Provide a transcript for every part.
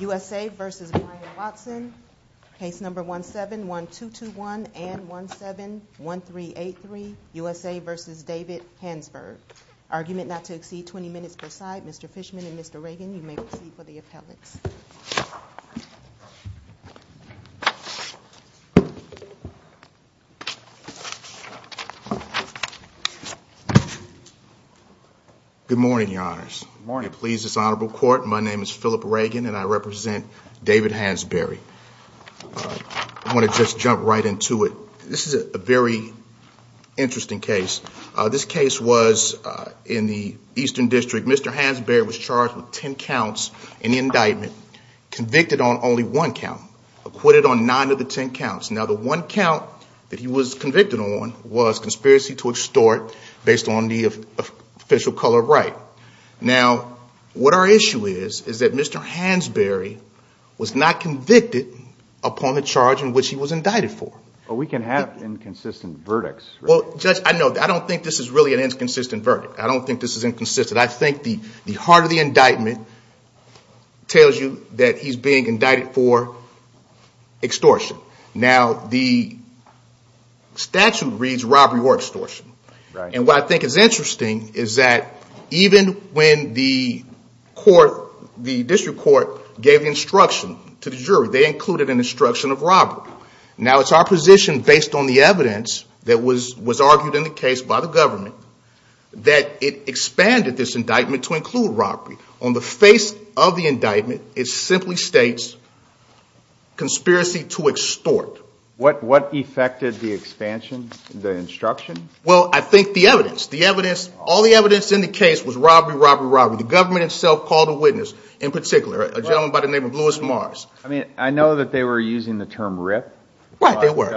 USA v. Bryan Watson 17-1221 USA v. David Hansberry Argument not to exceed 20 minutes per side. Mr. Fishman and Mr. Reagan, you may proceed for the appellate. Good morning, Your Honors. My name is Philip Reagan and I represent David Hansberry. I want to just jump right into it. This is a very interesting case. This case was in the Eastern District. Mr. Hansberry was charged with ten counts in the indictment. Convicted on only one count. Acquitted on nine of the ten counts. Now, the one count that he was convicted on was conspiracy to extort based on the official color of right. Now, what our issue is, is that Mr. Hansberry was not convicted upon the charge in which he was indicted for. Well, we can have inconsistent verdicts. Well, Judge, I know. I don't think this is really an inconsistent verdict. I don't think this is inconsistent. I think the heart of the indictment tells you that he's being indicted for extortion. Now, the statute reads robbery or extortion. And what I think is interesting is that even when the court, the district court gave instruction to the jury, they included an instruction of robbery. Now, it's our position, based on the evidence that was argued in the case by the government, that it expanded this indictment to include robbery. On the face of the indictment, it simply states conspiracy to extort. What effected the expansion, the instruction? Well, I think the evidence. The evidence, all the evidence in the case was robbery, robbery, robbery. The government itself called a witness in particular, a gentleman by the name of Louis Mars. I mean, I know that they were using the term rip. Well, they were.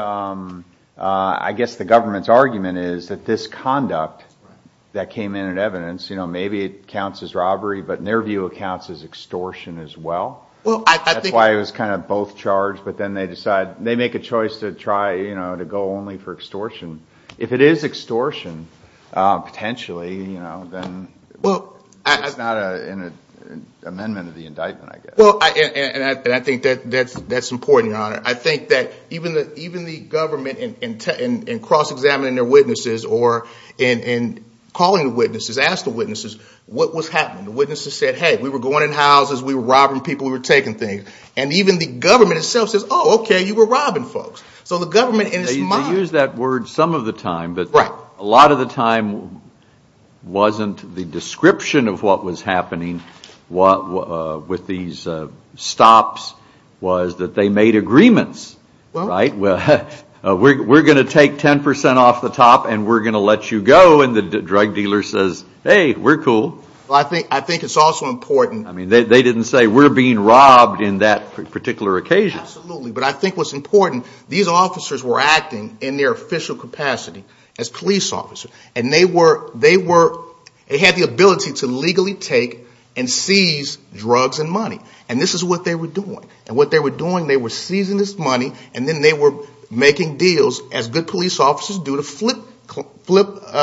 I guess the government's argument is that this conduct that came in at evidence, you know, maybe it counts as robbery, but in their view it counts as extortion as well. That's why it was kind of both charged, but then they decide, they make a choice to try, you know, to go only for extortion. If it is extortion, potentially, you know, then it's not an amendment of the indictment, I guess. Well, and I think that's important, Your Honor. I think that even the government in cross-examining their witnesses or in calling the witnesses, asked the witnesses what was happening. The witnesses said, hey, we were going in houses, we were robbing people, we were taking things. And even the government itself says, oh, okay, you were robbing folks. So the government in its mind. They use that word some of the time, but a lot of the time wasn't the description of what was happening with these stops was that they made agreements, right? We're going to take 10% off the top and we're going to let you go. And the drug dealer says, hey, we're cool. Well, I think it's also important. I mean, they didn't say we're being robbed in that particular occasion. Absolutely. But I think what's important, these officers were acting in their official capacity as police officers. And they were, they had the ability to legally take and seize drugs and money. And this is what they were doing. And what they were doing, they were seizing this money and then they were making deals, as good police officers do, to flip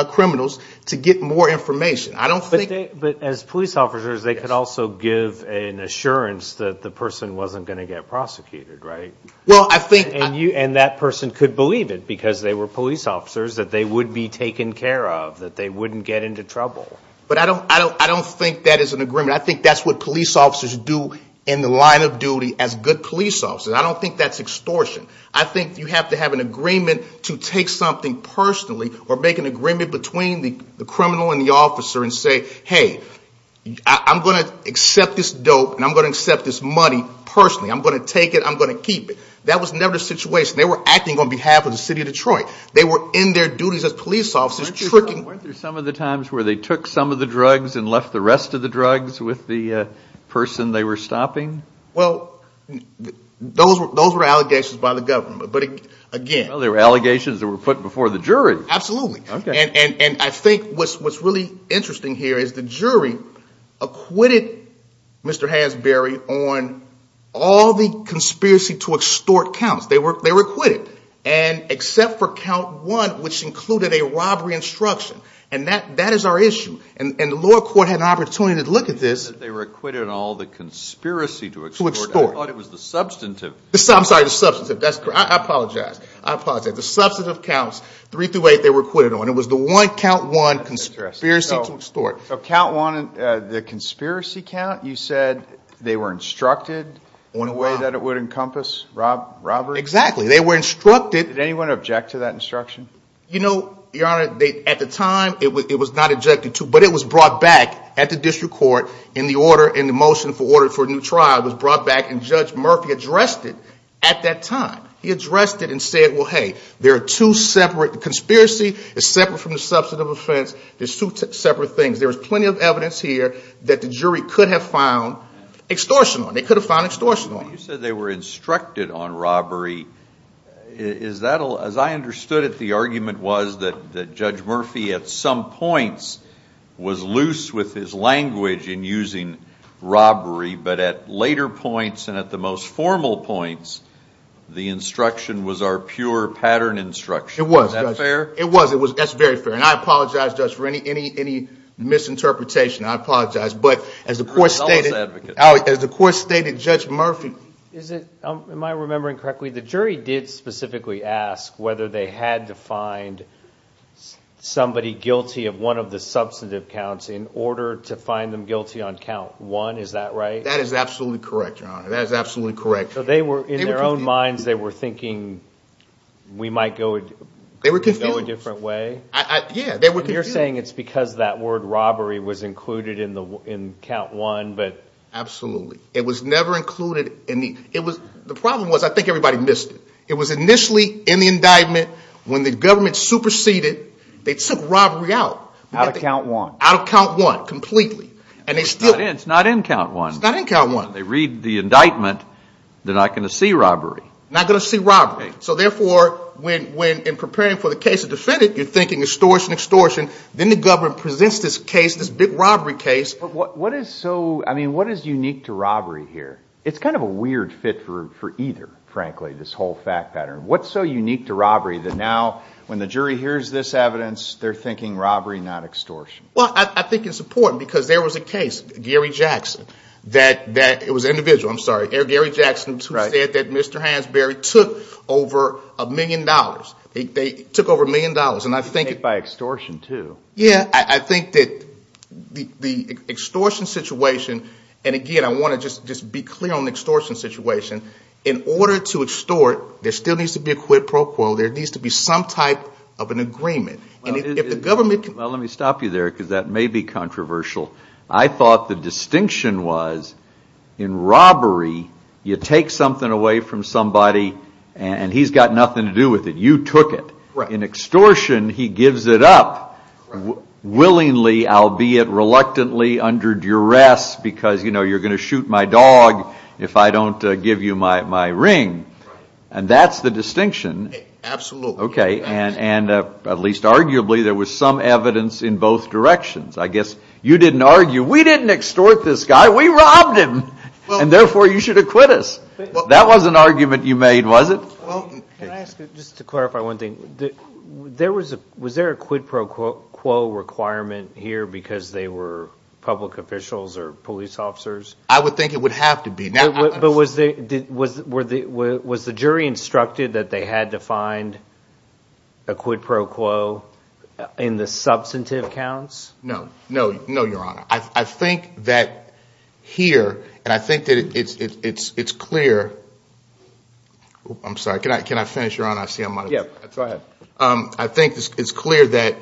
criminals to get more information. I don't think. But as police officers, they could also give an assurance that the person wasn't going to get prosecuted, right? Well, I think. And that person could believe it because they were police officers, that they would be taken care of, that they wouldn't get into trouble. But I don't think that is an agreement. I think that's what police officers do in the line of duty as good police officers. I don't think that's extortion. I think you have to have an agreement to take something personally or make an agreement between the criminal and the officer and say, hey, I'm going to accept this dope and I'm going to accept this money personally. I'm going to take it. I'm going to keep it. That was never the situation. They were acting on behalf of the city of Detroit. They were in their duties as police officers tricking. Weren't there some of the times where they took some of the drugs and left the rest of the drugs with the person they were stopping? Well, those were allegations by the government. But again. Well, they were allegations that were put before the jury. Absolutely. And I think what's really interesting here is the jury acquitted Mr. Hansberry on all the conspiracy to extort counts. They were acquitted. And except for count one, which included a robbery instruction. And that is our issue. And the lower court had an opportunity to look at this. They were acquitted on all the conspiracy to extort. I thought it was the substantive. I'm sorry, the substantive. I apologize. I apologize. The substantive counts, three through eight, they were acquitted on. It was the one count one conspiracy to extort. Count one, the conspiracy count, you said they were instructed in a way that it would encompass robbery? Exactly. They were instructed. Did anyone object to that instruction? You know, Your Honor, at the time, it was not objected to. But it was brought back at the district court in the order, in the motion for order for a new trial. It was brought back. And Judge Murphy addressed it at that time. He addressed it and said, well, hey, there are two separate. The conspiracy is separate from the substantive offense. There's two separate things. There was plenty of evidence here that the jury could have found extortion on. They could have found extortion on. You said they were instructed on robbery. Is that, as I understood it, the argument was that Judge Murphy, at some points, was loose with his language in using robbery. But at later points and at the most formal points, the instruction was our pure pattern instruction. Was that fair? It was. That's very fair. And I apologize, Judge, for any misinterpretation. I apologize. But as the court stated, Judge Murphy. Am I remembering correctly? The jury did specifically ask whether they had to find somebody guilty of one of the substantive counts in order to find them guilty on count one. Is that right? That is absolutely correct, Your Honor. That is absolutely correct. So in their own minds, they were thinking we might go a different way? Yeah. You're saying it's because that word robbery was included in count one. Absolutely. It was never included. The problem was I think everybody missed it. It was initially in the indictment when the government superseded. They took robbery out. Out of count one. Out of count one completely. It's not in count one. It's not in count one. They read the indictment. They're not going to see robbery. Not going to see robbery. So therefore, in preparing for the case of the defendant, you're thinking extortion, extortion. Then the government presents this case, this big robbery case. What is unique to robbery here? It's kind of a weird fit for either, frankly, this whole fact pattern. What's so unique to robbery that now when the jury hears this evidence, they're thinking robbery, not extortion? Well, I think it's important because there was a case, Gary Jackson. It was an individual. I'm sorry. Gary Jackson who said that Mr. Hansberry took over a million dollars. They took over a million dollars. By extortion, too. Yeah. I think that the extortion situation, and again, I want to just be clear on the extortion situation. In order to extort, there still needs to be a quid pro quo. There needs to be some type of an agreement. Well, let me stop you there because that may be controversial. I thought the distinction was in robbery, you take something away from somebody and he's got nothing to do with it. You took it. In extortion, he gives it up willingly, albeit reluctantly, under duress because, you know, you're going to shoot my dog if I don't give you my ring. And that's the distinction. Absolutely. Okay. And at least arguably, there was some evidence in both directions. I guess you didn't argue, we didn't extort this guy, we robbed him, and therefore you should acquit us. That wasn't an argument you made, was it? Can I ask, just to clarify one thing, was there a quid pro quo requirement here because they were public officials or police officers? I would think it would have to be. But was the jury instructed that they had to find a quid pro quo in the substantive counts? No. No, Your Honor. I think that here, and I think that it's clear. I'm sorry, can I finish, Your Honor? I see I'm out of time. Yeah, go ahead. I think it's clear that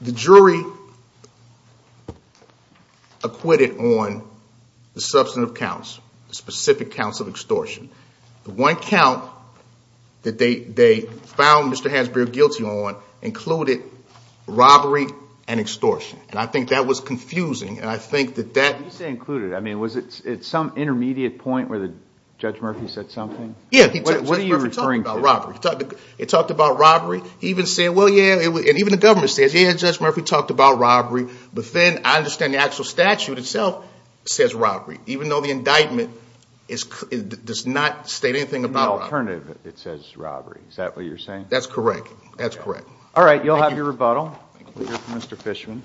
the jury acquitted on the substantive counts, the specific counts of extortion. The one count that they found Mr. Hansberry guilty on included robbery and extortion. And I think that was confusing, and I think that that- When you say included, I mean, was it some intermediate point where Judge Murphy said something? Yeah, Judge Murphy talked about robbery. He talked about robbery. He even said, well, yeah, and even the government says, yeah, Judge Murphy talked about robbery. But then I understand the actual statute itself says robbery. Even though the indictment does not state anything about robbery. The alternative, it says robbery. Is that what you're saying? That's correct. That's correct. All right, you'll have your rebuttal. We'll hear from Mr. Fishman.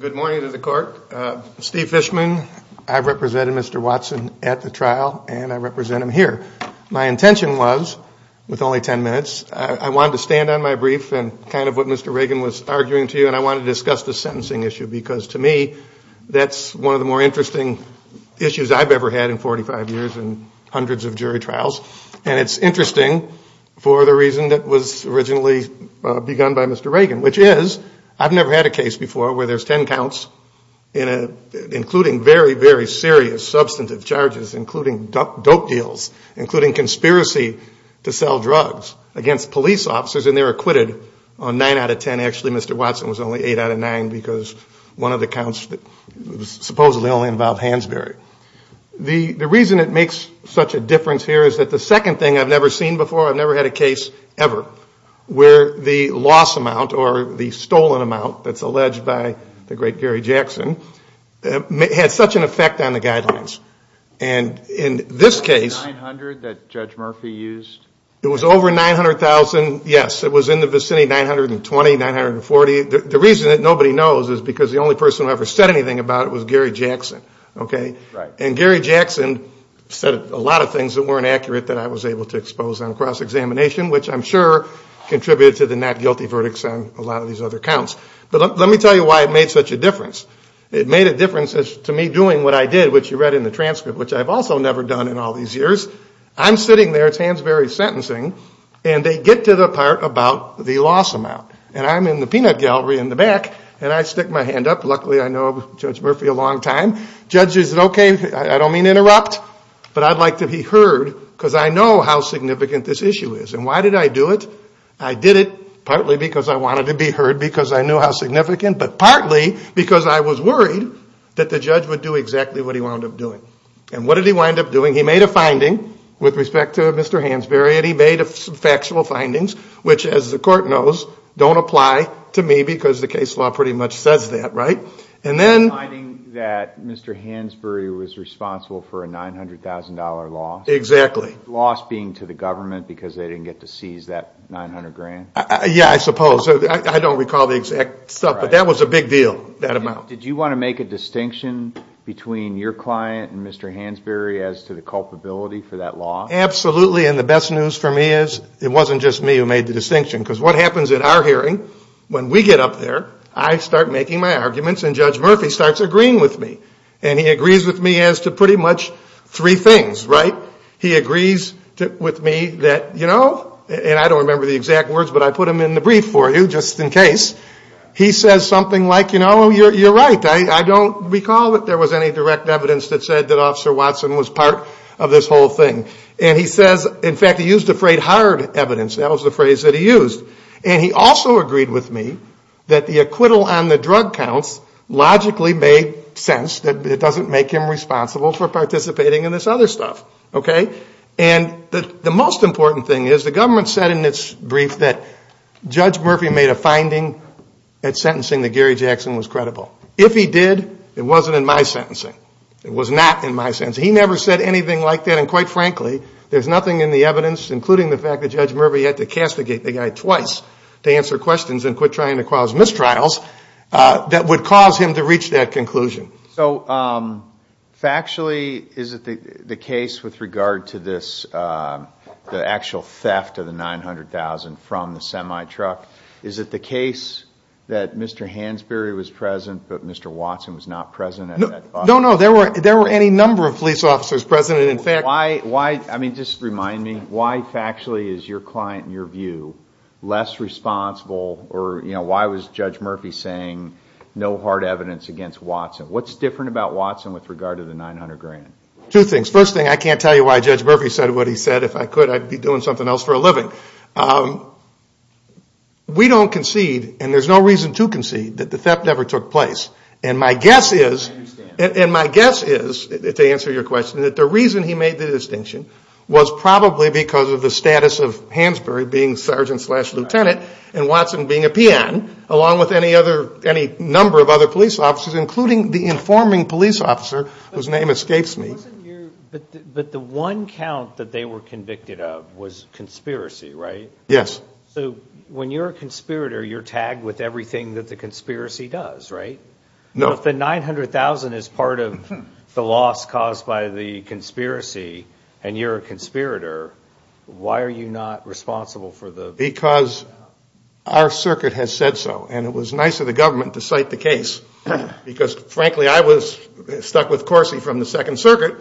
Good morning to the Court. Steve Fishman. I represented Mr. Watson at the trial, and I represent him here. My intention was, with only 10 minutes, I wanted to stand on my brief and kind of what Mr. Reagan was arguing to you, and I wanted to discuss the sentencing issue because, to me, that's one of the more interesting issues I've ever had in 45 years and hundreds of jury trials, and it's interesting for the reason that was originally begun by Mr. Reagan, which is I've never had a case before where there's 10 counts, including very, very serious substantive charges, including dope deals, including conspiracy to sell drugs against police officers, and they're acquitted on 9 out of 10. Actually, Mr. Watson was only 8 out of 9 because one of the counts supposedly only involved Hansberry. The reason it makes such a difference here is that the second thing I've never seen before, I've never had a case ever where the loss amount or the stolen amount that's alleged by the great Gary Jackson had such an effect on the guidelines. And in this case. 900 that Judge Murphy used? It was over 900,000, yes. It was in the vicinity of 920, 940. The reason that nobody knows is because the only person who ever said anything about it was Gary Jackson, okay? And Gary Jackson said a lot of things that weren't accurate that I was able to expose on cross-examination, which I'm sure contributed to the not guilty verdicts on a lot of these other counts. But let me tell you why it made such a difference. It made a difference to me doing what I did, which you read in the transcript, which I've also never done in all these years. I'm sitting there, it's Hansberry's sentencing, and they get to the part about the loss amount. And I'm in the peanut gallery in the back, and I stick my hand up. Luckily I know Judge Murphy a long time. Judge says, okay, I don't mean to interrupt, but I'd like to be heard because I know how significant this issue is. And why did I do it? I did it partly because I wanted to be heard because I knew how significant, but partly because I was worried that the judge would do exactly what he wound up doing. And what did he wind up doing? He made a finding with respect to Mr. Hansberry, and he made some factual findings, which, as the court knows, don't apply to me because the case law pretty much says that, right? And then- The finding that Mr. Hansberry was responsible for a $900,000 loss. Exactly. The loss being to the government because they didn't get to seize that $900,000? Yeah, I suppose. I don't recall the exact stuff, but that was a big deal, that amount. Did you want to make a distinction between your client and Mr. Hansberry as to the culpability for that loss? Absolutely, and the best news for me is it wasn't just me who made the distinction because what happens at our hearing, when we get up there, I start making my arguments and Judge Murphy starts agreeing with me, and he agrees with me as to pretty much three things, right? He agrees with me that, you know, and I don't remember the exact words, but I put them in the brief for you just in case. He says something like, you know, you're right, I don't recall that there was any direct evidence that said that Officer Watson was part of this whole thing. And he says, in fact, he used the phrase hard evidence. That was the phrase that he used. And he also agreed with me that the acquittal on the drug counts logically made sense, that it doesn't make him responsible for participating in this other stuff, okay? And the most important thing is the government said in its brief that Judge Murphy made a finding at sentencing that Gary Jackson was credible. If he did, it wasn't in my sentencing. It was not in my sentencing. He never said anything like that, and quite frankly, there's nothing in the evidence, including the fact that Judge Murphy had to castigate the guy twice to answer questions and quit trying to cause mistrials, that would cause him to reach that conclusion. So factually, is it the case with regard to this, the actual theft of the $900,000 from the semi-truck, is it the case that Mr. Hansberry was present but Mr. Watson was not present at that bus stop? No, no, there were any number of police officers present. I mean, just remind me, why factually is your client, in your view, less responsible or, you know, why was Judge Murphy saying no hard evidence against Watson? What's different about Watson with regard to the $900,000? Two things. First thing, I can't tell you why Judge Murphy said what he said. If I could, I'd be doing something else for a living. We don't concede, and there's no reason to concede, that the theft never took place. And my guess is, and my guess is, to answer your question, that the reason he made the distinction was probably because of the status of Hansberry being sergeant slash lieutenant and Watson being a P.N., along with any number of other police officers, including the informing police officer, whose name escapes me. But the one count that they were convicted of was conspiracy, right? Yes. So when you're a conspirator, you're tagged with everything that the conspiracy does, right? No. Well, if the $900,000 is part of the loss caused by the conspiracy and you're a conspirator, why are you not responsible for the theft? Because our circuit has said so, and it was nice of the government to cite the case, because, frankly, I was stuck with Corsi from the Second Circuit.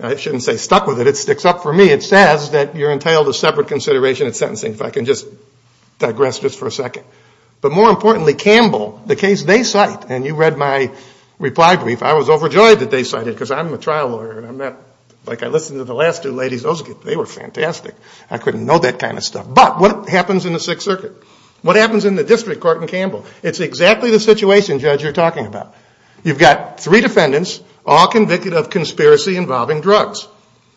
I shouldn't say stuck with it. It sticks up for me. It says that you're entitled to separate consideration at sentencing, if I can just digress just for a second. But more importantly, Campbell, the case they cite, and you read my reply brief, I was overjoyed that they cited it, because I'm a trial lawyer. Like I listened to the last two ladies, they were fantastic. I couldn't know that kind of stuff. But what happens in the Sixth Circuit? What happens in the district court in Campbell? It's exactly the situation, Judge, you're talking about. You've got three defendants, all convicted of conspiracy involving drugs.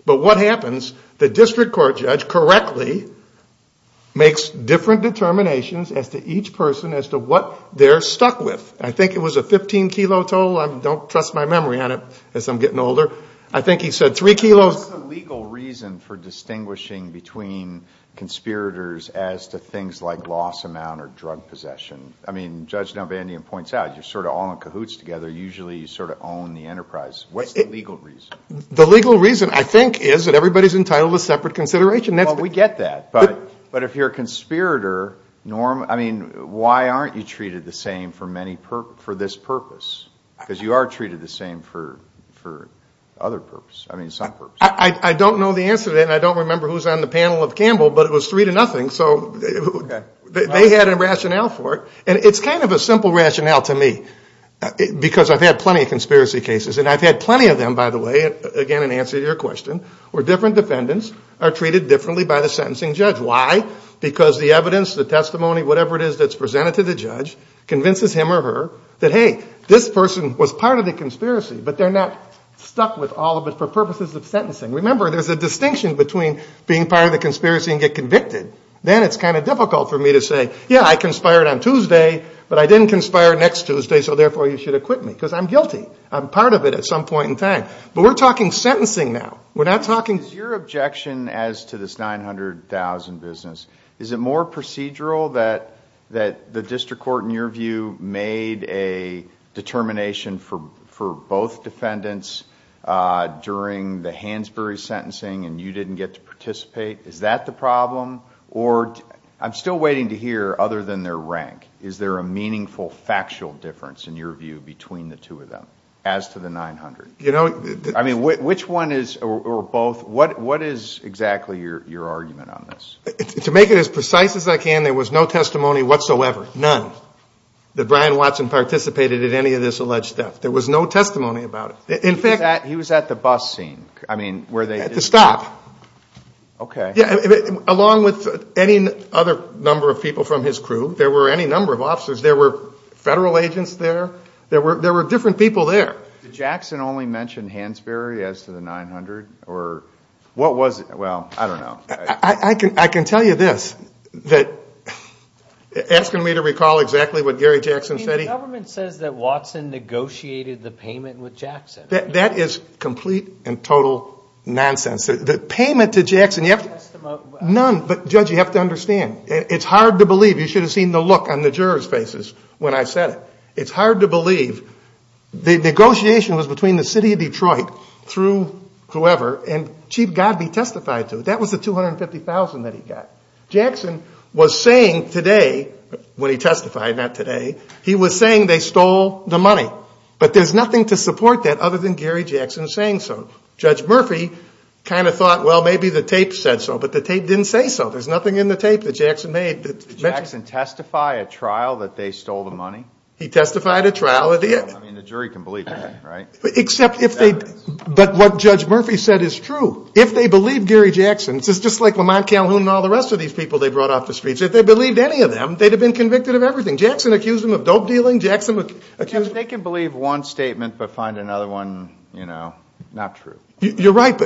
But what happens? The district court judge correctly makes different determinations as to each person, as to what they're stuck with. I think it was a 15-kilo toll. I don't trust my memory on it as I'm getting older. I think he said three kilos. What's the legal reason for distinguishing between conspirators as to things like loss amount or drug possession? I mean, Judge DelVandian points out, you're sort of all in cahoots together. Usually you sort of own the enterprise. What's the legal reason? The legal reason, I think, is that everybody's entitled to separate consideration. Well, we get that. But if you're a conspirator, Norm, I mean, why aren't you treated the same for this purpose? Because you are treated the same for other purposes, I mean, some purposes. I don't know the answer to that, and I don't remember who's on the panel of Campbell. But it was three to nothing, so they had a rationale for it. And it's kind of a simple rationale to me because I've had plenty of conspiracy cases. And I've had plenty of them, by the way, again, in answer to your question, where different defendants are treated differently by the sentencing judge. Why? Because the evidence, the testimony, whatever it is that's presented to the judge, convinces him or her that, hey, this person was part of the conspiracy, but they're not stuck with all of it for purposes of sentencing. Remember, there's a distinction between being part of the conspiracy and get convicted. Then it's kind of difficult for me to say, yeah, I conspired on Tuesday, but I didn't conspire next Tuesday, so therefore you should acquit me because I'm guilty. I'm part of it at some point in time. But we're talking sentencing now. We're not talking— Is your objection as to this $900,000 business, is it more procedural that the district court, in your view, made a determination for both defendants during the Hansberry sentencing and you didn't get to participate? Is that the problem? Or I'm still waiting to hear, other than their rank, is there a meaningful factual difference, in your view, between the two of them as to the $900,000? I mean, which one is, or both, what is exactly your argument on this? To make it as precise as I can, there was no testimony whatsoever, none, that Brian Watson participated in any of this alleged theft. There was no testimony about it. In fact— He was at the bus scene, I mean, where they— At the stop. Okay. Yeah, along with any other number of people from his crew, there were any number of officers. There were federal agents there. There were different people there. Did Jackson only mention Hansberry as to the $900,000? Or what was it? Well, I don't know. I can tell you this, that, asking me to recall exactly what Gary Jackson said, he— I mean, the government says that Watson negotiated the payment with Jackson. That is complete and total nonsense. The payment to Jackson, you have to— None, but, Judge, you have to understand. It's hard to believe. You should have seen the look on the jurors' faces when I said it. It's hard to believe. The negotiation was between the city of Detroit through whoever, and Chief Godby testified to it. That was the $250,000 that he got. Jackson was saying today, when he testified, not today, he was saying they stole the money. But there's nothing to support that other than Gary Jackson saying so. Judge Murphy kind of thought, well, maybe the tape said so. But the tape didn't say so. There's nothing in the tape that Jackson made. Did Jackson testify at trial that they stole the money? He testified at trial. I mean, the jury can believe that, right? Except if they— But what Judge Murphy said is true. If they believed Gary Jackson, it's just like Lamont Calhoun and all the rest of these people they brought off the streets. If they believed any of them, they'd have been convicted of everything. Jackson accused them of dope dealing. Jackson accused— You're right,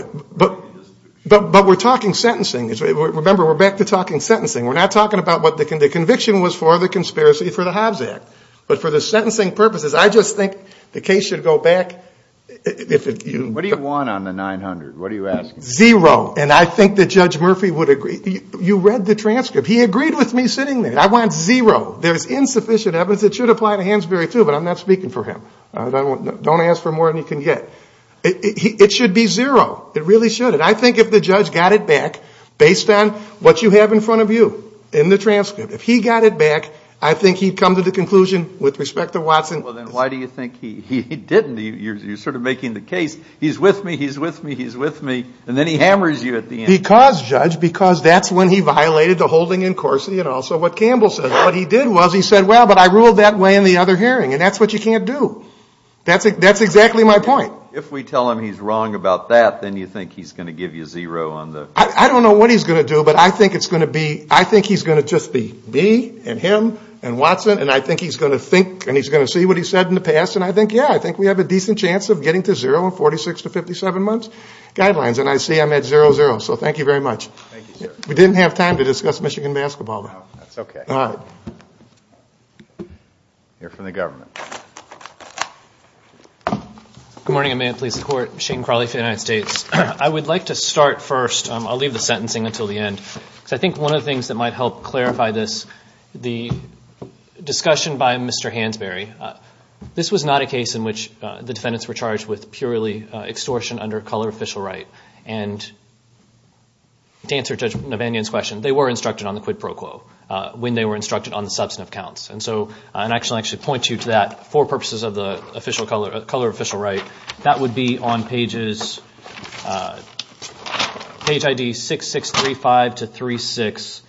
but we're talking sentencing. Remember, we're back to talking sentencing. We're not talking about what the conviction was for the conspiracy for the Hobbs Act. But for the sentencing purposes, I just think the case should go back. What do you want on the $900,000? What are you asking? Zero. And I think that Judge Murphy would agree. You read the transcript. He agreed with me sitting there. I want zero. There's insufficient evidence that should apply to Hansberry too, but I'm not speaking for him. Don't ask for more than you can get. It should be zero. It really should. And I think if the judge got it back, based on what you have in front of you in the transcript, if he got it back, I think he'd come to the conclusion, with respect to Watson— Well, then why do you think he didn't? You're sort of making the case, he's with me, he's with me, he's with me, and then he hammers you at the end. Because, Judge, because that's when he violated the holding in Corsi and also what Campbell said. What he did was he said, well, but I ruled that way in the other hearing, and that's what you can't do. That's exactly my point. If we tell him he's wrong about that, then you think he's going to give you zero on the— I don't know what he's going to do, but I think it's going to be—I think he's going to just be me and him and Watson, and I think he's going to think and he's going to see what he said in the past, and I think, yeah, I think we have a decent chance of getting to zero in 46 to 57 months' guidelines, and I see I'm at zero-zero. So thank you very much. Thank you, sir. We didn't have time to discuss Michigan basketball. That's okay. You're from the government. Good morning, and may it please the Court. Shane Crawley for the United States. I would like to start first. I'll leave the sentencing until the end. I think one of the things that might help clarify this, the discussion by Mr. Hansberry, this was not a case in which the defendants were charged with purely extortion under color official right, and to answer Judge Navanian's question, they were instructed on the quid pro quo when they were instructed on the substantive counts. And so I'll actually point you to that for purposes of the color official right. That would be on page ID 6635 to 36.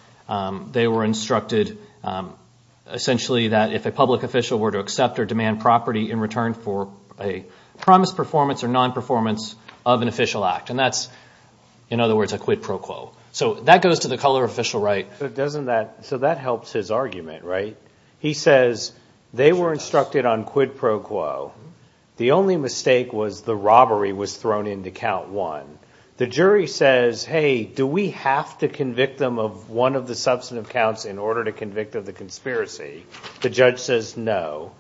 They were instructed essentially that if a public official were to accept or demand property in return for a promised performance or nonperformance of an official act, and that's, in other words, a quid pro quo. So that goes to the color official right. So that helps his argument, right? He says they were instructed on quid pro quo. The only mistake was the robbery was thrown into count one. The jury says, hey, do we have to convict them of one of the substantive counts in order to convict of the conspiracy? The judge says no.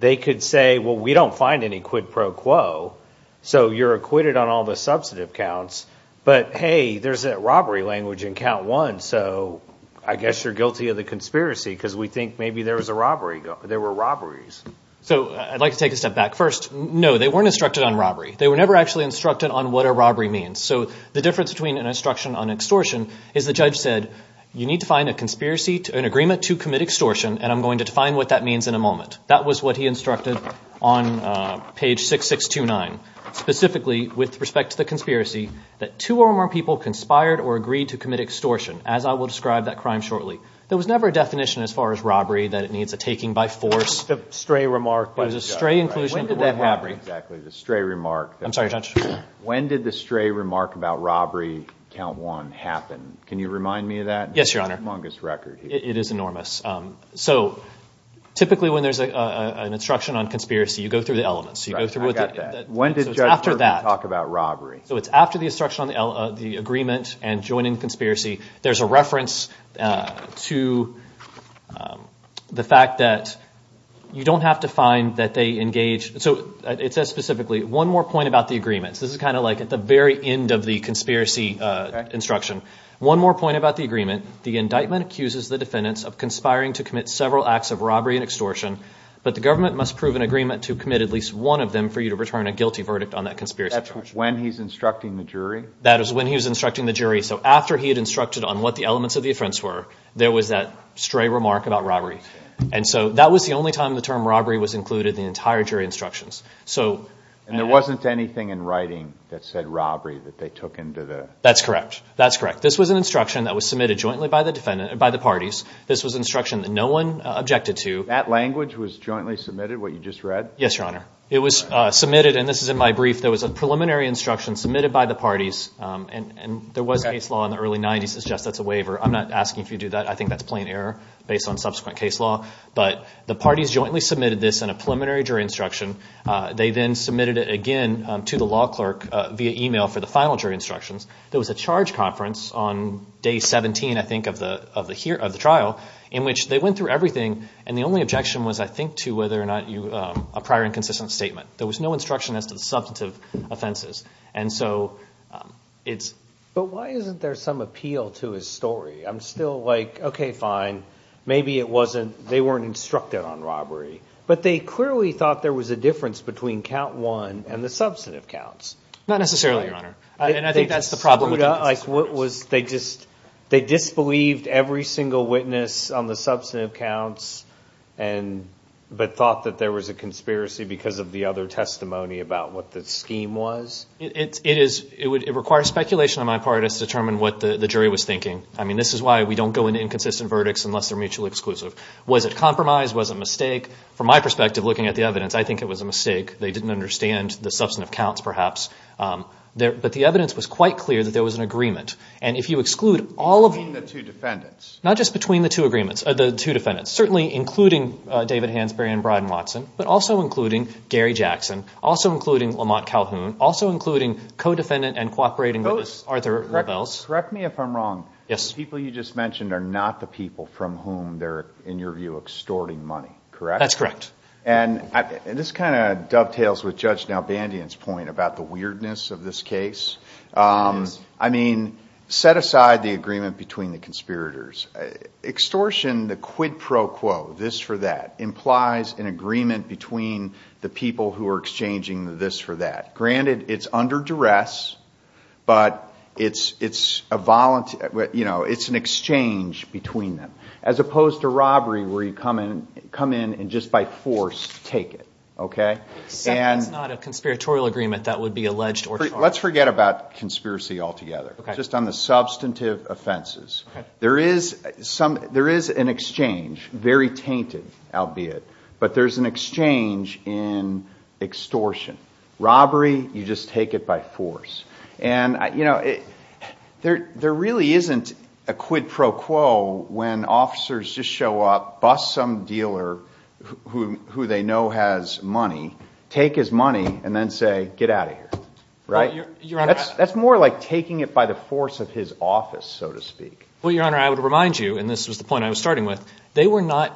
They could say, well, we don't find any quid pro quo, so you're acquitted on all the substantive counts. But, hey, there's that robbery language in count one, so I guess you're guilty of the conspiracy because we think maybe there was a robbery, there were robberies. So I'd like to take a step back first. No, they weren't instructed on robbery. They were never actually instructed on what a robbery means. So the difference between an instruction on extortion is the judge said, you need to find a conspiracy, an agreement to commit extortion, and I'm going to define what that means in a moment. That was what he instructed on page 6629, specifically with respect to the conspiracy, that two or more people conspired or agreed to commit extortion, as I will describe that crime shortly. There was never a definition as far as robbery that it needs a taking by force. The stray remark by the judge. It was a stray inclusion. When did that happen? Exactly, the stray remark. I'm sorry, Judge. When did the stray remark about robbery, count one, happen? Can you remind me of that? Yes, Your Honor. It's an humongous record. It is enormous. So typically when there's an instruction on conspiracy, you go through the elements. I got that. When did Judge Berkman talk about robbery? So it's after the instruction on the agreement and joining the conspiracy. There's a reference to the fact that you don't have to find that they engaged. So it says specifically, one more point about the agreements. This is kind of like at the very end of the conspiracy instruction. One more point about the agreement. The indictment accuses the defendants of conspiring to commit several acts of robbery and extortion, but the government must prove an agreement to commit at least one of them for you to return a guilty verdict on that conspiracy charge. That's when he's instructing the jury? That is when he was instructing the jury. So after he had instructed on what the elements of the offense were, there was that stray remark about robbery. And so that was the only time the term robbery was included in the entire jury instructions. And there wasn't anything in writing that said robbery that they took into the? That's correct, that's correct. This was an instruction that was submitted jointly by the parties. This was an instruction that no one objected to. That language was jointly submitted, what you just read? Yes, Your Honor. It was submitted, and this is in my brief. There was a preliminary instruction submitted by the parties, and there was case law in the early 90s that suggests that's a waiver. I'm not asking if you do that. I think that's plain error based on subsequent case law. But the parties jointly submitted this in a preliminary jury instruction. They then submitted it again to the law clerk via e-mail for the final jury instructions. There was a charge conference on day 17, I think, of the trial in which they went through everything, and the only objection was, I think, to whether or not a prior inconsistent statement. There was no instruction as to the substantive offenses. And so it's? But why isn't there some appeal to his story? I'm still like, okay, fine, maybe it wasn't, they weren't instructed on robbery. But they clearly thought there was a difference between count one and the substantive counts. Not necessarily, Your Honor. And I think that's the problem with inconsistencies. They disbelieved every single witness on the substantive counts, but thought that there was a conspiracy because of the other testimony about what the scheme was? It requires speculation on my part as to determine what the jury was thinking. I mean, this is why we don't go into inconsistent verdicts unless they're mutually exclusive. Was it compromise? Was it a mistake? From my perspective, looking at the evidence, I think it was a mistake. They didn't understand the substantive counts, perhaps. But the evidence was quite clear that there was an agreement. And if you exclude all of them. Between the two defendants? Not just between the two defendants. Certainly including David Hansberry and Brian Watson, but also including Gary Jackson, also including Lamont Calhoun, also including co-defendant and cooperating witness, Arthur Rebels. Correct me if I'm wrong. Yes. The people you just mentioned are not the people from whom they're, in your view, extorting money, correct? That's correct. This kind of dovetails with Judge Nalbandian's point about the weirdness of this case. Yes. I mean, set aside the agreement between the conspirators. Extortion, the quid pro quo, this for that, implies an agreement between the people who are exchanging the this for that. Granted, it's under duress, but it's an exchange between them. As opposed to robbery, where you come in and just by force take it. That's not a conspiratorial agreement that would be alleged or charged. Let's forget about conspiracy altogether. Just on the substantive offenses. There is an exchange, very tainted, albeit. But there's an exchange in extortion. Robbery, you just take it by force. There really isn't a quid pro quo when officers just show up, bus some dealer who they know has money, take his money, and then say, get out of here. That's more like taking it by the force of his office, so to speak. Well, Your Honor, I would remind you, and this was the point I was starting with, they were not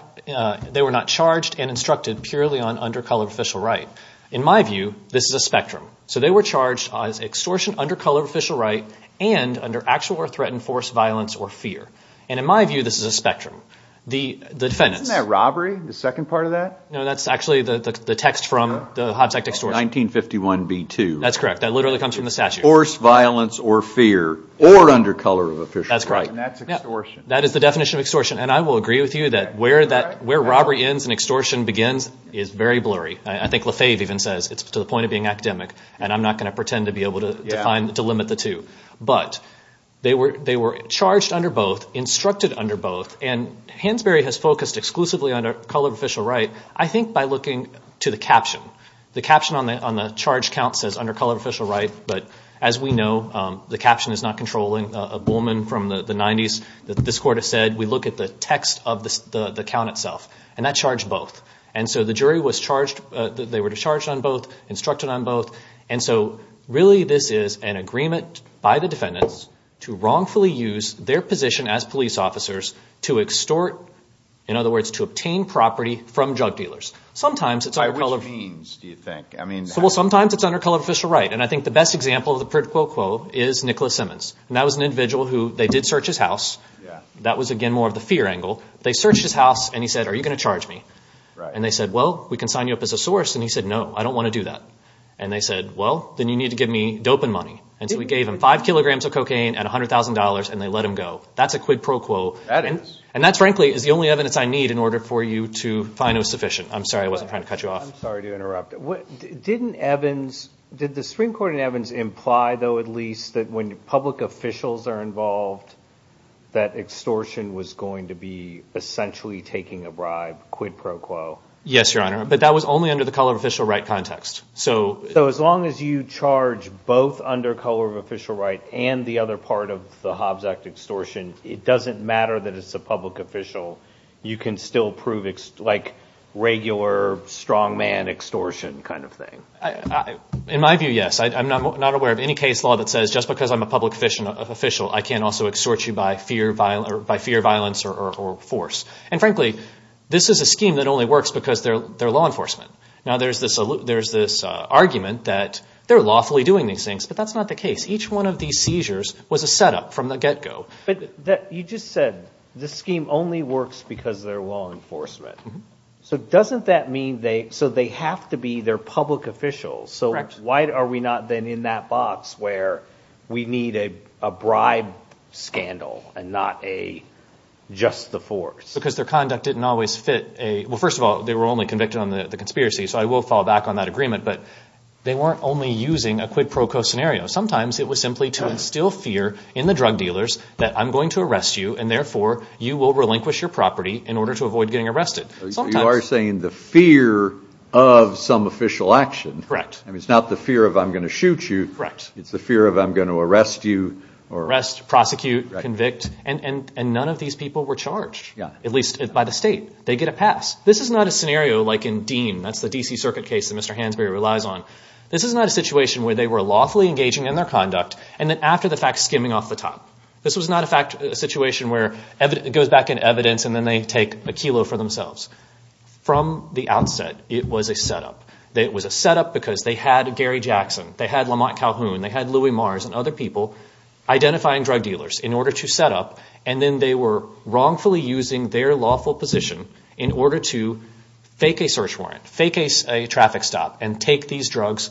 charged and instructed purely on undercolor official right. In my view, this is a spectrum. So they were charged as extortion, undercolor official right, and under actual or threatened force, violence, or fear. And in my view, this is a spectrum. Isn't that robbery, the second part of that? No, that's actually the text from the Hobbs Act extortion. 1951b-2. That's correct. That literally comes from the statute. Force, violence, or fear, or undercolor official right. That's correct. And that's extortion. That is the definition of extortion. And I will agree with you that where robbery ends and extortion begins is very blurry. I think LaFave even says it's to the point of being academic, and I'm not going to pretend to be able to limit the two. But they were charged under both, instructed under both, and Hansberry has focused exclusively on undercolor official right, I think by looking to the caption. The caption on the charge count says undercolor official right, but as we know, the caption is not controlling. A bullman from the 90s, this court has said, we look at the text of the count itself. And that charged both. And so the jury was charged, they were charged on both, instructed on both. And so really this is an agreement by the defendants to wrongfully use their position as police officers to extort, in other words, to obtain property from drug dealers. Sometimes it's undercolor. By which means, do you think? Well, sometimes it's undercolor official right. And I think the best example of the prit-quo-quo is Nicholas Simmons. And that was an individual who they did search his house. That was, again, more of the fear angle. They searched his house and he said, are you going to charge me? And they said, well, we can sign you up as a source. And he said, no, I don't want to do that. And they said, well, then you need to give me doping money. And so we gave him five kilograms of cocaine and $100,000 and they let him go. That's a quid pro quo. And that, frankly, is the only evidence I need in order for you to find it sufficient. I'm sorry I wasn't trying to cut you off. I'm sorry to interrupt. Didn't Evans, did the Supreme Court in Evans imply, though, at least, that when public officials are involved, that extortion was going to be essentially taking a bribe, quid pro quo? Yes, Your Honor. But that was only under the color of official right context. So as long as you charge both under color of official right and the other part of the Hobbs Act extortion, it doesn't matter that it's a public official. You can still prove, like, regular strongman extortion kind of thing. In my view, yes. I'm not aware of any case law that says just because I'm a public official I can't also extort you by fear, violence, or force. And, frankly, this is a scheme that only works because they're law enforcement. Now, there's this argument that they're lawfully doing these things, but that's not the case. Each one of these seizures was a setup from the get-go. But you just said the scheme only works because they're law enforcement. So doesn't that mean they have to be their public officials? Correct. So why are we not then in that box where we need a bribe scandal and not just the force? Because their conduct didn't always fit a – well, first of all, they were only convicted on the conspiracy, so I will fall back on that agreement. But they weren't only using a quid pro quo scenario. Sometimes it was simply to instill fear in the drug dealers that I'm going to arrest you, and therefore you will relinquish your property in order to avoid getting arrested. You are saying the fear of some official action. Correct. I mean, it's not the fear of I'm going to shoot you. Correct. It's the fear of I'm going to arrest you. Arrest, prosecute, convict. And none of these people were charged, at least by the state. They get a pass. This is not a scenario like in Dean. That's the D.C. Circuit case that Mr. Hansberry relies on. This is not a situation where they were lawfully engaging in their conduct and then after the fact skimming off the top. This was not a situation where it goes back in evidence and then they take a kilo for themselves. From the outset, it was a setup. It was a setup because they had Gary Jackson, they had Lamont Calhoun, they had Louis Mars and other people identifying drug dealers in order to set up, and then they were wrongfully using their lawful position in order to fake a search warrant, fake a traffic stop, and take these drugs.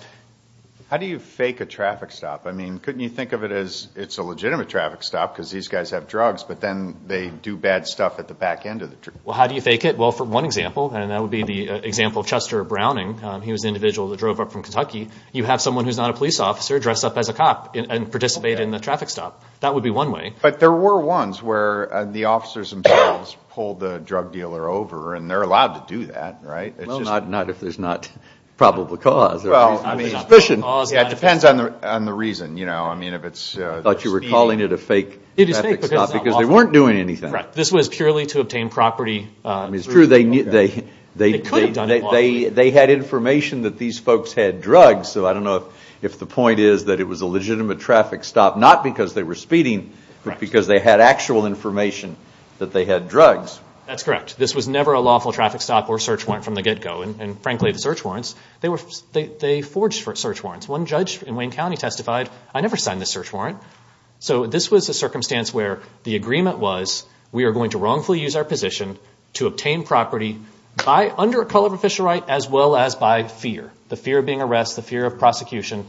How do you fake a traffic stop? I mean, couldn't you think of it as it's a legitimate traffic stop because these guys have drugs, but then they do bad stuff at the back end of the truck? Well, how do you fake it? Well, for one example, and that would be the example of Chester Browning. He was an individual that drove up from Kentucky. You have someone who's not a police officer dress up as a cop and participate in the traffic stop. That would be one way. But there were ones where the officers themselves pulled the drug dealer over and they're allowed to do that, right? Well, not if there's not probable cause. It depends on the reason. I thought you were calling it a fake traffic stop because they weren't doing anything. This was purely to obtain property. It's true. They had information that these folks had drugs, so I don't know if the point is that it was a legitimate traffic stop, not because they were speeding, but because they had actual information that they had drugs. That's correct. This was never a lawful traffic stop or search warrant from the get-go. And frankly, the search warrants, they forged search warrants. One judge in Wayne County testified, I never signed the search warrant. So this was a circumstance where the agreement was we are going to wrongfully use our position to obtain property by under a color of official right as well as by fear, the fear of being arrested, the fear of prosecution,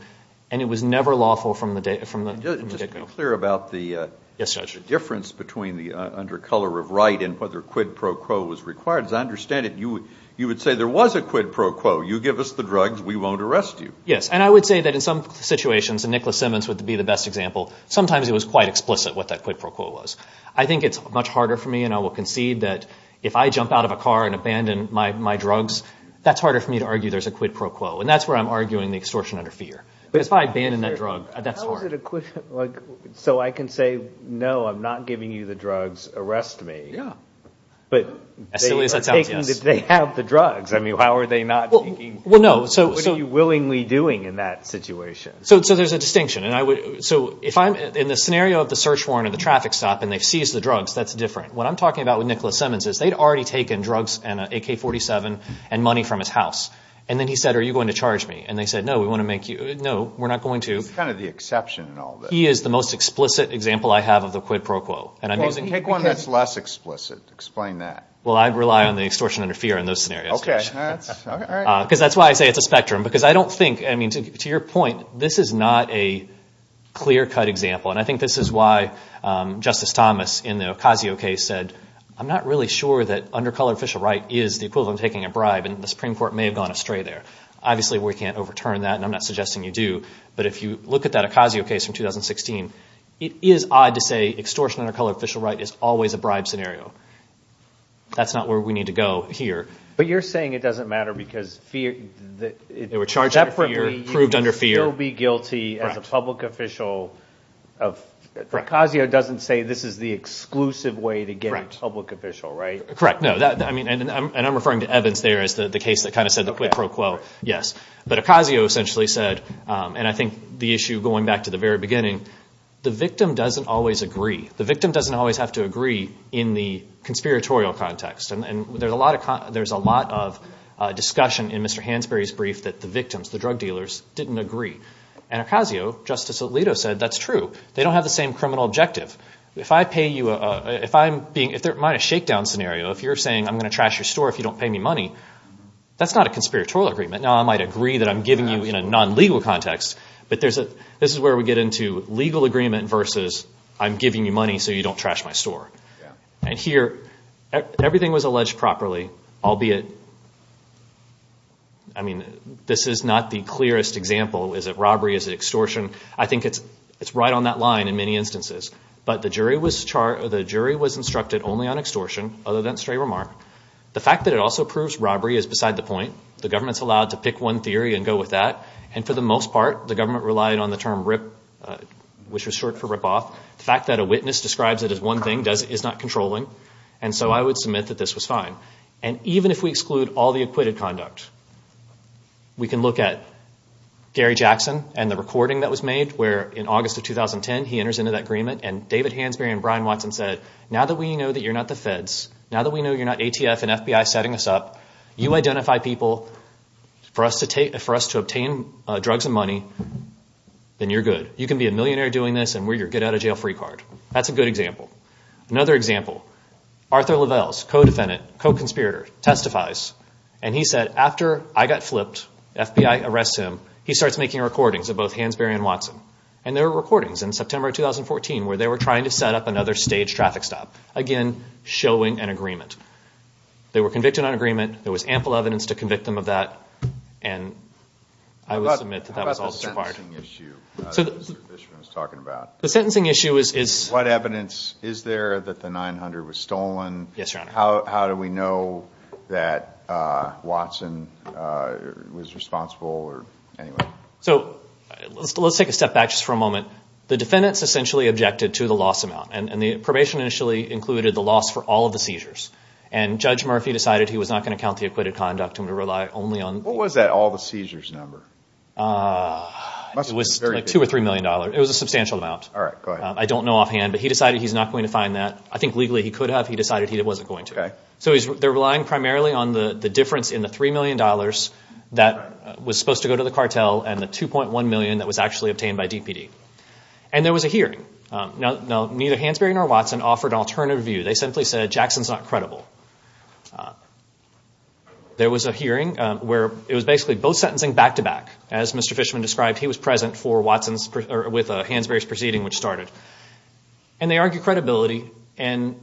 and it was never lawful from the get-go. Just to be clear about the difference between the under color of right and whether quid pro quo was required. As I understand it, you would say there was a quid pro quo. You give us the drugs, we won't arrest you. Yes, and I would say that in some situations, and Nicholas Simmons would be the best example, sometimes it was quite explicit what that quid pro quo was. I think it's much harder for me, and I will concede that if I jump out of a car and abandon my drugs, that's harder for me to argue there's a quid pro quo. And that's where I'm arguing the extortion under fear. Because if I abandon that drug, that's hard. So I can say, no, I'm not giving you the drugs, arrest me. Yeah. But they have the drugs. I mean, how are they not taking drugs? What are you willingly doing in that situation? So there's a distinction. So if I'm in the scenario of the search warrant or the traffic stop and they've seized the drugs, that's different. What I'm talking about with Nicholas Simmons is they'd already taken drugs and an AK-47 and money from his house. And then he said, are you going to charge me? And they said, no, we want to make you – no, we're not going to. He's kind of the exception in all this. He is the most explicit example I have of the quid pro quo. Take one that's less explicit. Explain that. Well, I'd rely on the extortion under fear in those scenarios. Okay. Because that's why I say it's a spectrum. Because I don't think – I mean, to your point, this is not a clear-cut example. And I think this is why Justice Thomas in the Ocasio case said, I'm not really sure that under color official right is the equivalent of taking a bribe. And the Supreme Court may have gone astray there. Obviously, we can't overturn that, and I'm not suggesting you do. But if you look at that Ocasio case from 2016, it is odd to say extortion under color official right is always a bribe scenario. That's not where we need to go here. But you're saying it doesn't matter because fear – They were charged under fear, proved under fear. You would still be guilty as a public official of – Ocasio doesn't say this is the exclusive way to get a public official, right? Correct. No, I mean, and I'm referring to Evans there as the case that kind of said the quid pro quo, yes. But Ocasio essentially said, and I think the issue going back to the very beginning, the victim doesn't always agree. The victim doesn't always have to agree in the conspiratorial context. And there's a lot of discussion in Mr. Hansberry's brief that the victims, the drug dealers, didn't agree. And Ocasio, Justice Alito, said that's true. They don't have the same criminal objective. If I pay you a – if I'm being – if there might be a shakedown scenario, if you're saying I'm going to trash your store if you don't pay me money, that's not a conspiratorial agreement. Now, I might agree that I'm giving you in a non-legal context, but this is where we get into legal agreement versus I'm giving you money so you don't trash my store. And here, everything was alleged properly, albeit – I mean, this is not the clearest example. Is it robbery? Is it extortion? I think it's right on that line in many instances. But the jury was instructed only on extortion, other than stray remark. The fact that it also proves robbery is beside the point. The government's allowed to pick one theory and go with that. And for the most part, the government relied on the term RIP, which was short for rip-off. The fact that a witness describes it as one thing is not controlling. And so I would submit that this was fine. And even if we exclude all the acquitted conduct, we can look at Gary Jackson and the recording that was made where, in August of 2010, he enters into that agreement. And David Hansberry and Brian Watson said, now that we know that you're not the feds, now that we know you're not ATF and FBI setting us up, you identify people for us to obtain drugs and money, then you're good. You can be a millionaire doing this, and we're your get-out-of-jail-free card. That's a good example. Another example. Arthur Lovells, co-defendant, co-conspirator, testifies. And he said, after I got flipped, the FBI arrests him, he starts making recordings of both Hansberry and Watson. And there were recordings in September of 2014 where they were trying to set up another staged traffic stop, again, showing an agreement. They were convicted on agreement. There was ample evidence to convict them of that. And I would submit that that was also required. The sentencing issue that Mr. Fishman was talking about. The sentencing issue is... What evidence is there that the .900 was stolen? Yes, Your Honor. How do we know that Watson was responsible? So let's take a step back just for a moment. The defendants essentially objected to the loss amount, and the probation initially included the loss for all of the seizures. And Judge Murphy decided he was not going to count the acquitted conduct and rely only on... What was that all the seizures number? It was like $2 or $3 million. It was a substantial amount. All right, go ahead. I don't know offhand, but he decided he's not going to find that. I think legally he could have. He decided he wasn't going to. Okay. So they're relying primarily on the difference in the $3 million that was supposed to go to the cartel and the $2.1 million that was actually obtained by DPD. And there was a hearing. Neither Hansberry nor Watson offered an alternative view. They simply said, Jackson's not credible. There was a hearing where it was basically both sentencing back-to-back. As Mr. Fishman described, he was present with Hansberry's proceeding, which started. And they argued credibility. And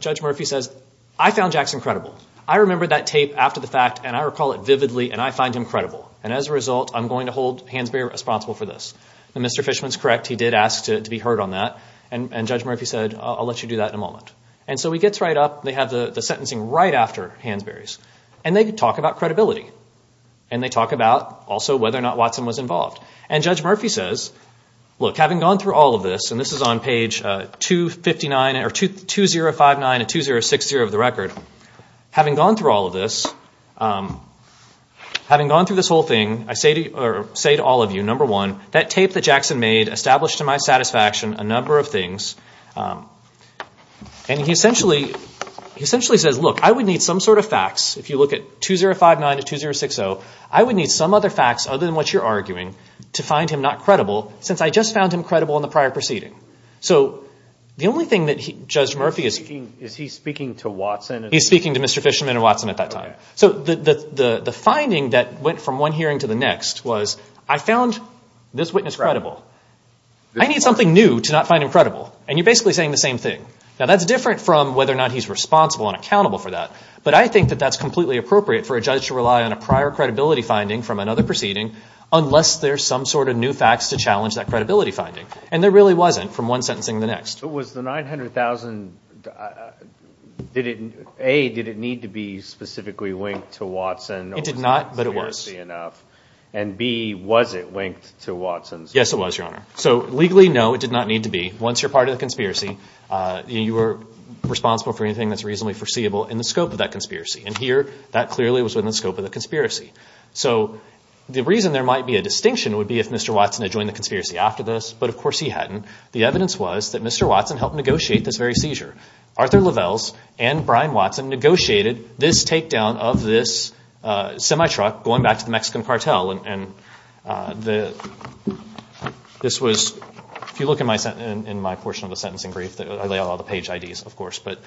Judge Murphy says, I found Jackson credible. I remember that tape after the fact, and I recall it vividly, and I find him credible. And as a result, I'm going to hold Hansberry responsible for this. And Mr. Fishman's correct. He did ask to be heard on that. And Judge Murphy said, I'll let you do that in a moment. And so he gets right up. They have the sentencing right after Hansberry's. And they talk about credibility. And they talk about also whether or not Watson was involved. And Judge Murphy says, look, having gone through all of this, and this is on page 2059 and 2060 of the record, having gone through all of this, having gone through this whole thing, I say to all of you, number one, that tape that Jackson made established to my satisfaction a number of things. And he essentially says, look, I would need some sort of facts. If you look at 2059 to 2060, I would need some other facts other than what you're arguing to find him not credible, since I just found him credible in the prior proceeding. So the only thing that Judge Murphy is – Is he speaking to Watson? He's speaking to Mr. Fishman and Watson at that time. So the finding that went from one hearing to the next was, I found this witness credible. I need something new to not find him credible. And you're basically saying the same thing. Now, that's different from whether or not he's responsible and accountable for that. But I think that that's completely appropriate for a judge to rely on a prior credibility finding from another proceeding unless there's some sort of new facts to challenge that credibility finding. And there really wasn't from one sentencing to the next. But was the $900,000 – A, did it need to be specifically linked to Watson? It did not, but it was. And B, was it linked to Watson? Yes, it was, Your Honor. So legally, no, it did not need to be. Once you're part of the conspiracy, you are responsible for anything that's reasonably foreseeable in the scope of that conspiracy. And here, that clearly was within the scope of the conspiracy. So the reason there might be a distinction would be if Mr. Watson had joined the conspiracy after this. But, of course, he hadn't. The evidence was that Mr. Watson helped negotiate this very seizure. Arthur Lovells and Brian Watson negotiated this takedown of this semi-truck going back to the Mexican cartel. If you look in my portion of the sentencing brief, I lay out all the page IDs, of course. But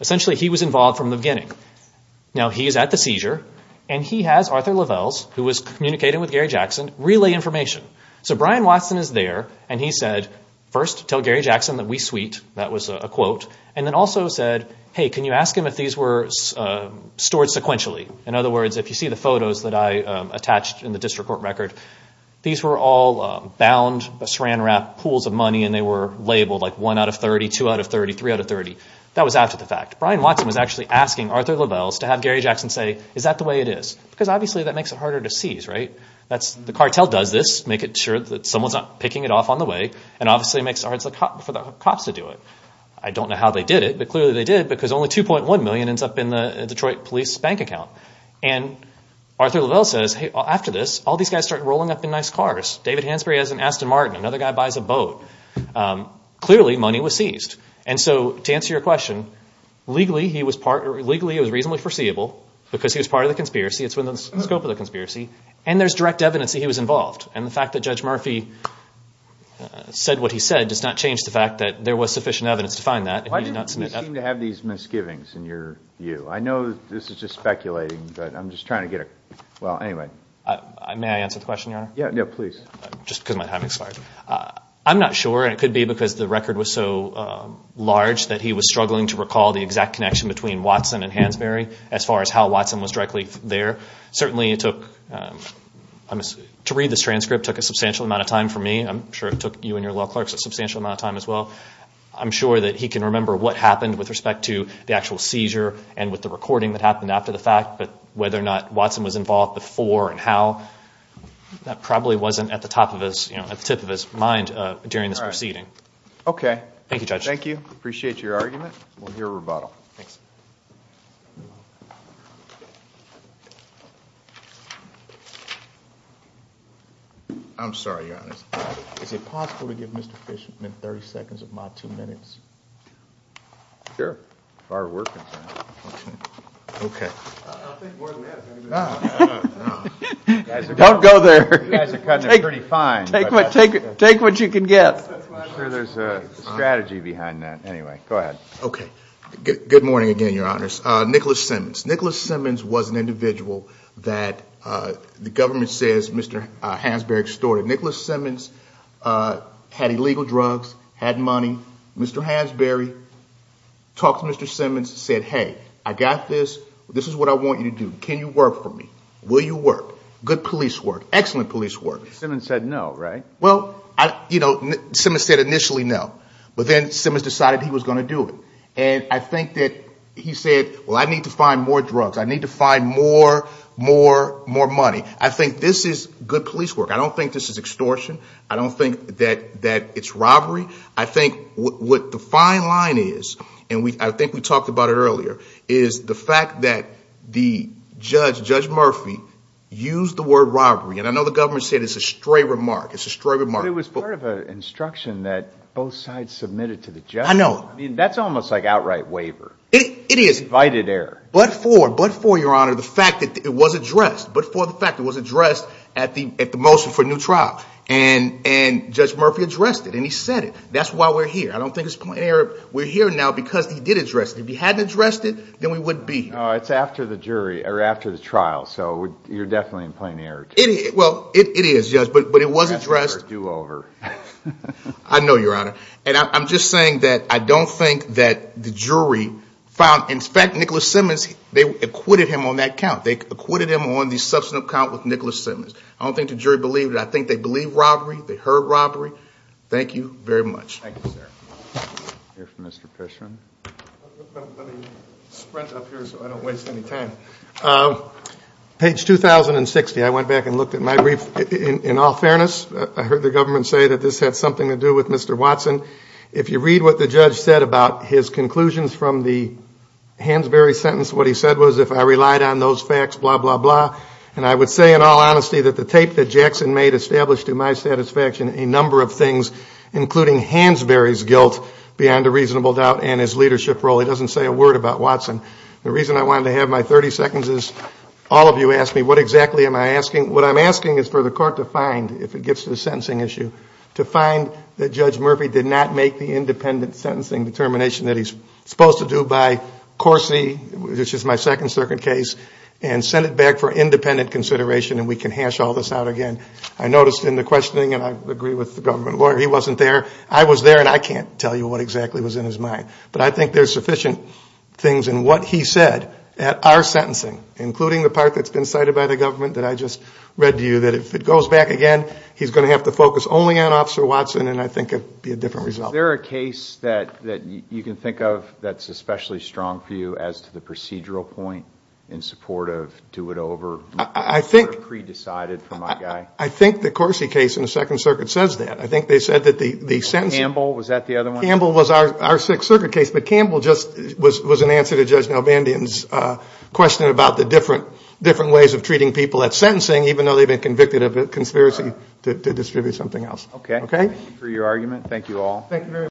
essentially, he was involved from the beginning. Now, he is at the seizure, and he has Arthur Lovells, who was communicating with Gary Jackson, relay information. So Brian Watson is there, and he said, first, tell Gary Jackson that we sweet. That was a quote. And then also said, hey, can you ask him if these were stored sequentially? In other words, if you see the photos that I attached in the district court record, these were all bound, saran-wrapped pools of money, and they were labeled like 1 out of 30, 2 out of 30, 3 out of 30. That was after the fact. Brian Watson was actually asking Arthur Lovells to have Gary Jackson say, is that the way it is? Because obviously that makes it harder to seize, right? The cartel does this, make it sure that someone's not picking it off on the way, and obviously makes it hard for the cops to do it. I don't know how they did it, but clearly they did, because only $2.1 million ends up in the Detroit police bank account. And Arthur Lovells says, hey, after this, all these guys start rolling up in nice cars. David Hansberry has an Aston Martin. Another guy buys a boat. Clearly money was seized. And so to answer your question, legally it was reasonably foreseeable, because he was part of the conspiracy. It's within the scope of the conspiracy. And there's direct evidence that he was involved. And the fact that Judge Murphy said what he said does not change the fact that there was sufficient evidence to find that, and he did not submit that. You seem to have these misgivings in your view. I know this is just speculating, but I'm just trying to get a – well, anyway. May I answer the question, Your Honor? Yeah, please. Just because my time expired. I'm not sure, and it could be because the record was so large that he was struggling to recall the exact connection between Watson and Hansberry as far as how Watson was directly there. Certainly it took – to read this transcript took a substantial amount of time for me. I'm sure it took you and your law clerks a substantial amount of time as well. I'm sure that he can remember what happened with respect to the actual seizure and with the recording that happened after the fact, but whether or not Watson was involved before and how, that probably wasn't at the top of his – at the tip of his mind during this proceeding. Okay. Thank you, Judge. Thank you. Appreciate your argument. We'll hear a rebuttal. Thanks. I'm sorry, Your Honor. Is it possible to give Mr. Fishman 30 seconds of my two minutes? Sure. If our work is functioning. Okay. I'll take more than this. No, no, no. Don't go there. You guys are cutting it pretty fine. Take what you can get. I'm sure there's a strategy behind that. Anyway, go ahead. Okay. Good morning again, Your Honors. Nicholas Simmons. Nicholas Simmons was an individual that the government says Mr. Hansberry extorted. Nicholas Simmons had illegal drugs, had money. Mr. Hansberry talked to Mr. Simmons, said, hey, I got this. This is what I want you to do. Can you work for me? Will you work? Good police work. Excellent police work. Simmons said no, right? Well, you know, Simmons said initially no. But then Simmons decided he was going to do it. And I think that he said, well, I need to find more drugs. I need to find more, more, more money. I think this is good police work. I don't think this is extortion. I don't think that it's robbery. I think what the fine line is, and I think we talked about it earlier, is the fact that the judge, Judge Murphy, used the word robbery. And I know the government said it's a stray remark. It's a stray remark. But it was part of an instruction that both sides submitted to the judge. I know. I mean, that's almost like outright waiver. It is. Invited error. But for, but for, Your Honor, the fact that it was addressed. But for the fact that it was addressed at the motion for a new trial. And Judge Murphy addressed it. And he said it. That's why we're here. I don't think it's plain error. We're here now because he did address it. If he hadn't addressed it, then we wouldn't be here. Oh, it's after the jury, or after the trial. So you're definitely in plain error. It is. Well, it is, Judge. But it was addressed. It's a do-over. I know, Your Honor. And I'm just saying that I don't think that the jury found, in fact, Nicholas Simmons, they acquitted him on that count. They acquitted him on the substantive count with Nicholas Simmons. I don't think the jury believed it. I think they believed robbery. They heard robbery. Thank you very much. Thank you, sir. We'll hear from Mr. Fisher. Let me sprint up here so I don't waste any time. Page 2060. I went back and looked at my brief. In all fairness, I heard the government say that this had something to do with Mr. Watson. If you read what the judge said about his conclusions from the Hansberry sentence, what he said was, if I relied on those facts, blah, blah, blah. And I would say, in all honesty, that the tape that Jackson made established, to my satisfaction, a number of things, including Hansberry's guilt beyond a reasonable doubt and his leadership role. It doesn't say a word about Watson. The reason I wanted to have my 30 seconds is all of you asked me what exactly am I asking. What I'm asking is for the Court to find, if it gets to the sentencing issue, to find that Judge Murphy did not make the independent sentencing determination that he's supposed to do by Corsi, which is my second circuit case, and send it back for independent consideration, and we can hash all this out again. I noticed in the questioning, and I agree with the government lawyer, he wasn't there. I was there, and I can't tell you what exactly was in his mind. But I think there's sufficient things in what he said at our sentencing, including the part that's been cited by the government that I just read to you, that if it goes back again, he's going to have to focus only on Officer Watson, and I think it would be a different result. Is there a case that you can think of that's especially strong for you as to the procedural point in support of do it over? I think the Corsi case in the Second Circuit says that. I think they said that the sentencing – Campbell, was that the other one? Campbell was our Sixth Circuit case, but Campbell just was an answer to Judge Nalbandian's question about the different ways of treating people at sentencing, even though they've been convicted of a conspiracy to distribute something else. Okay. Thank you for your argument. Thank you all.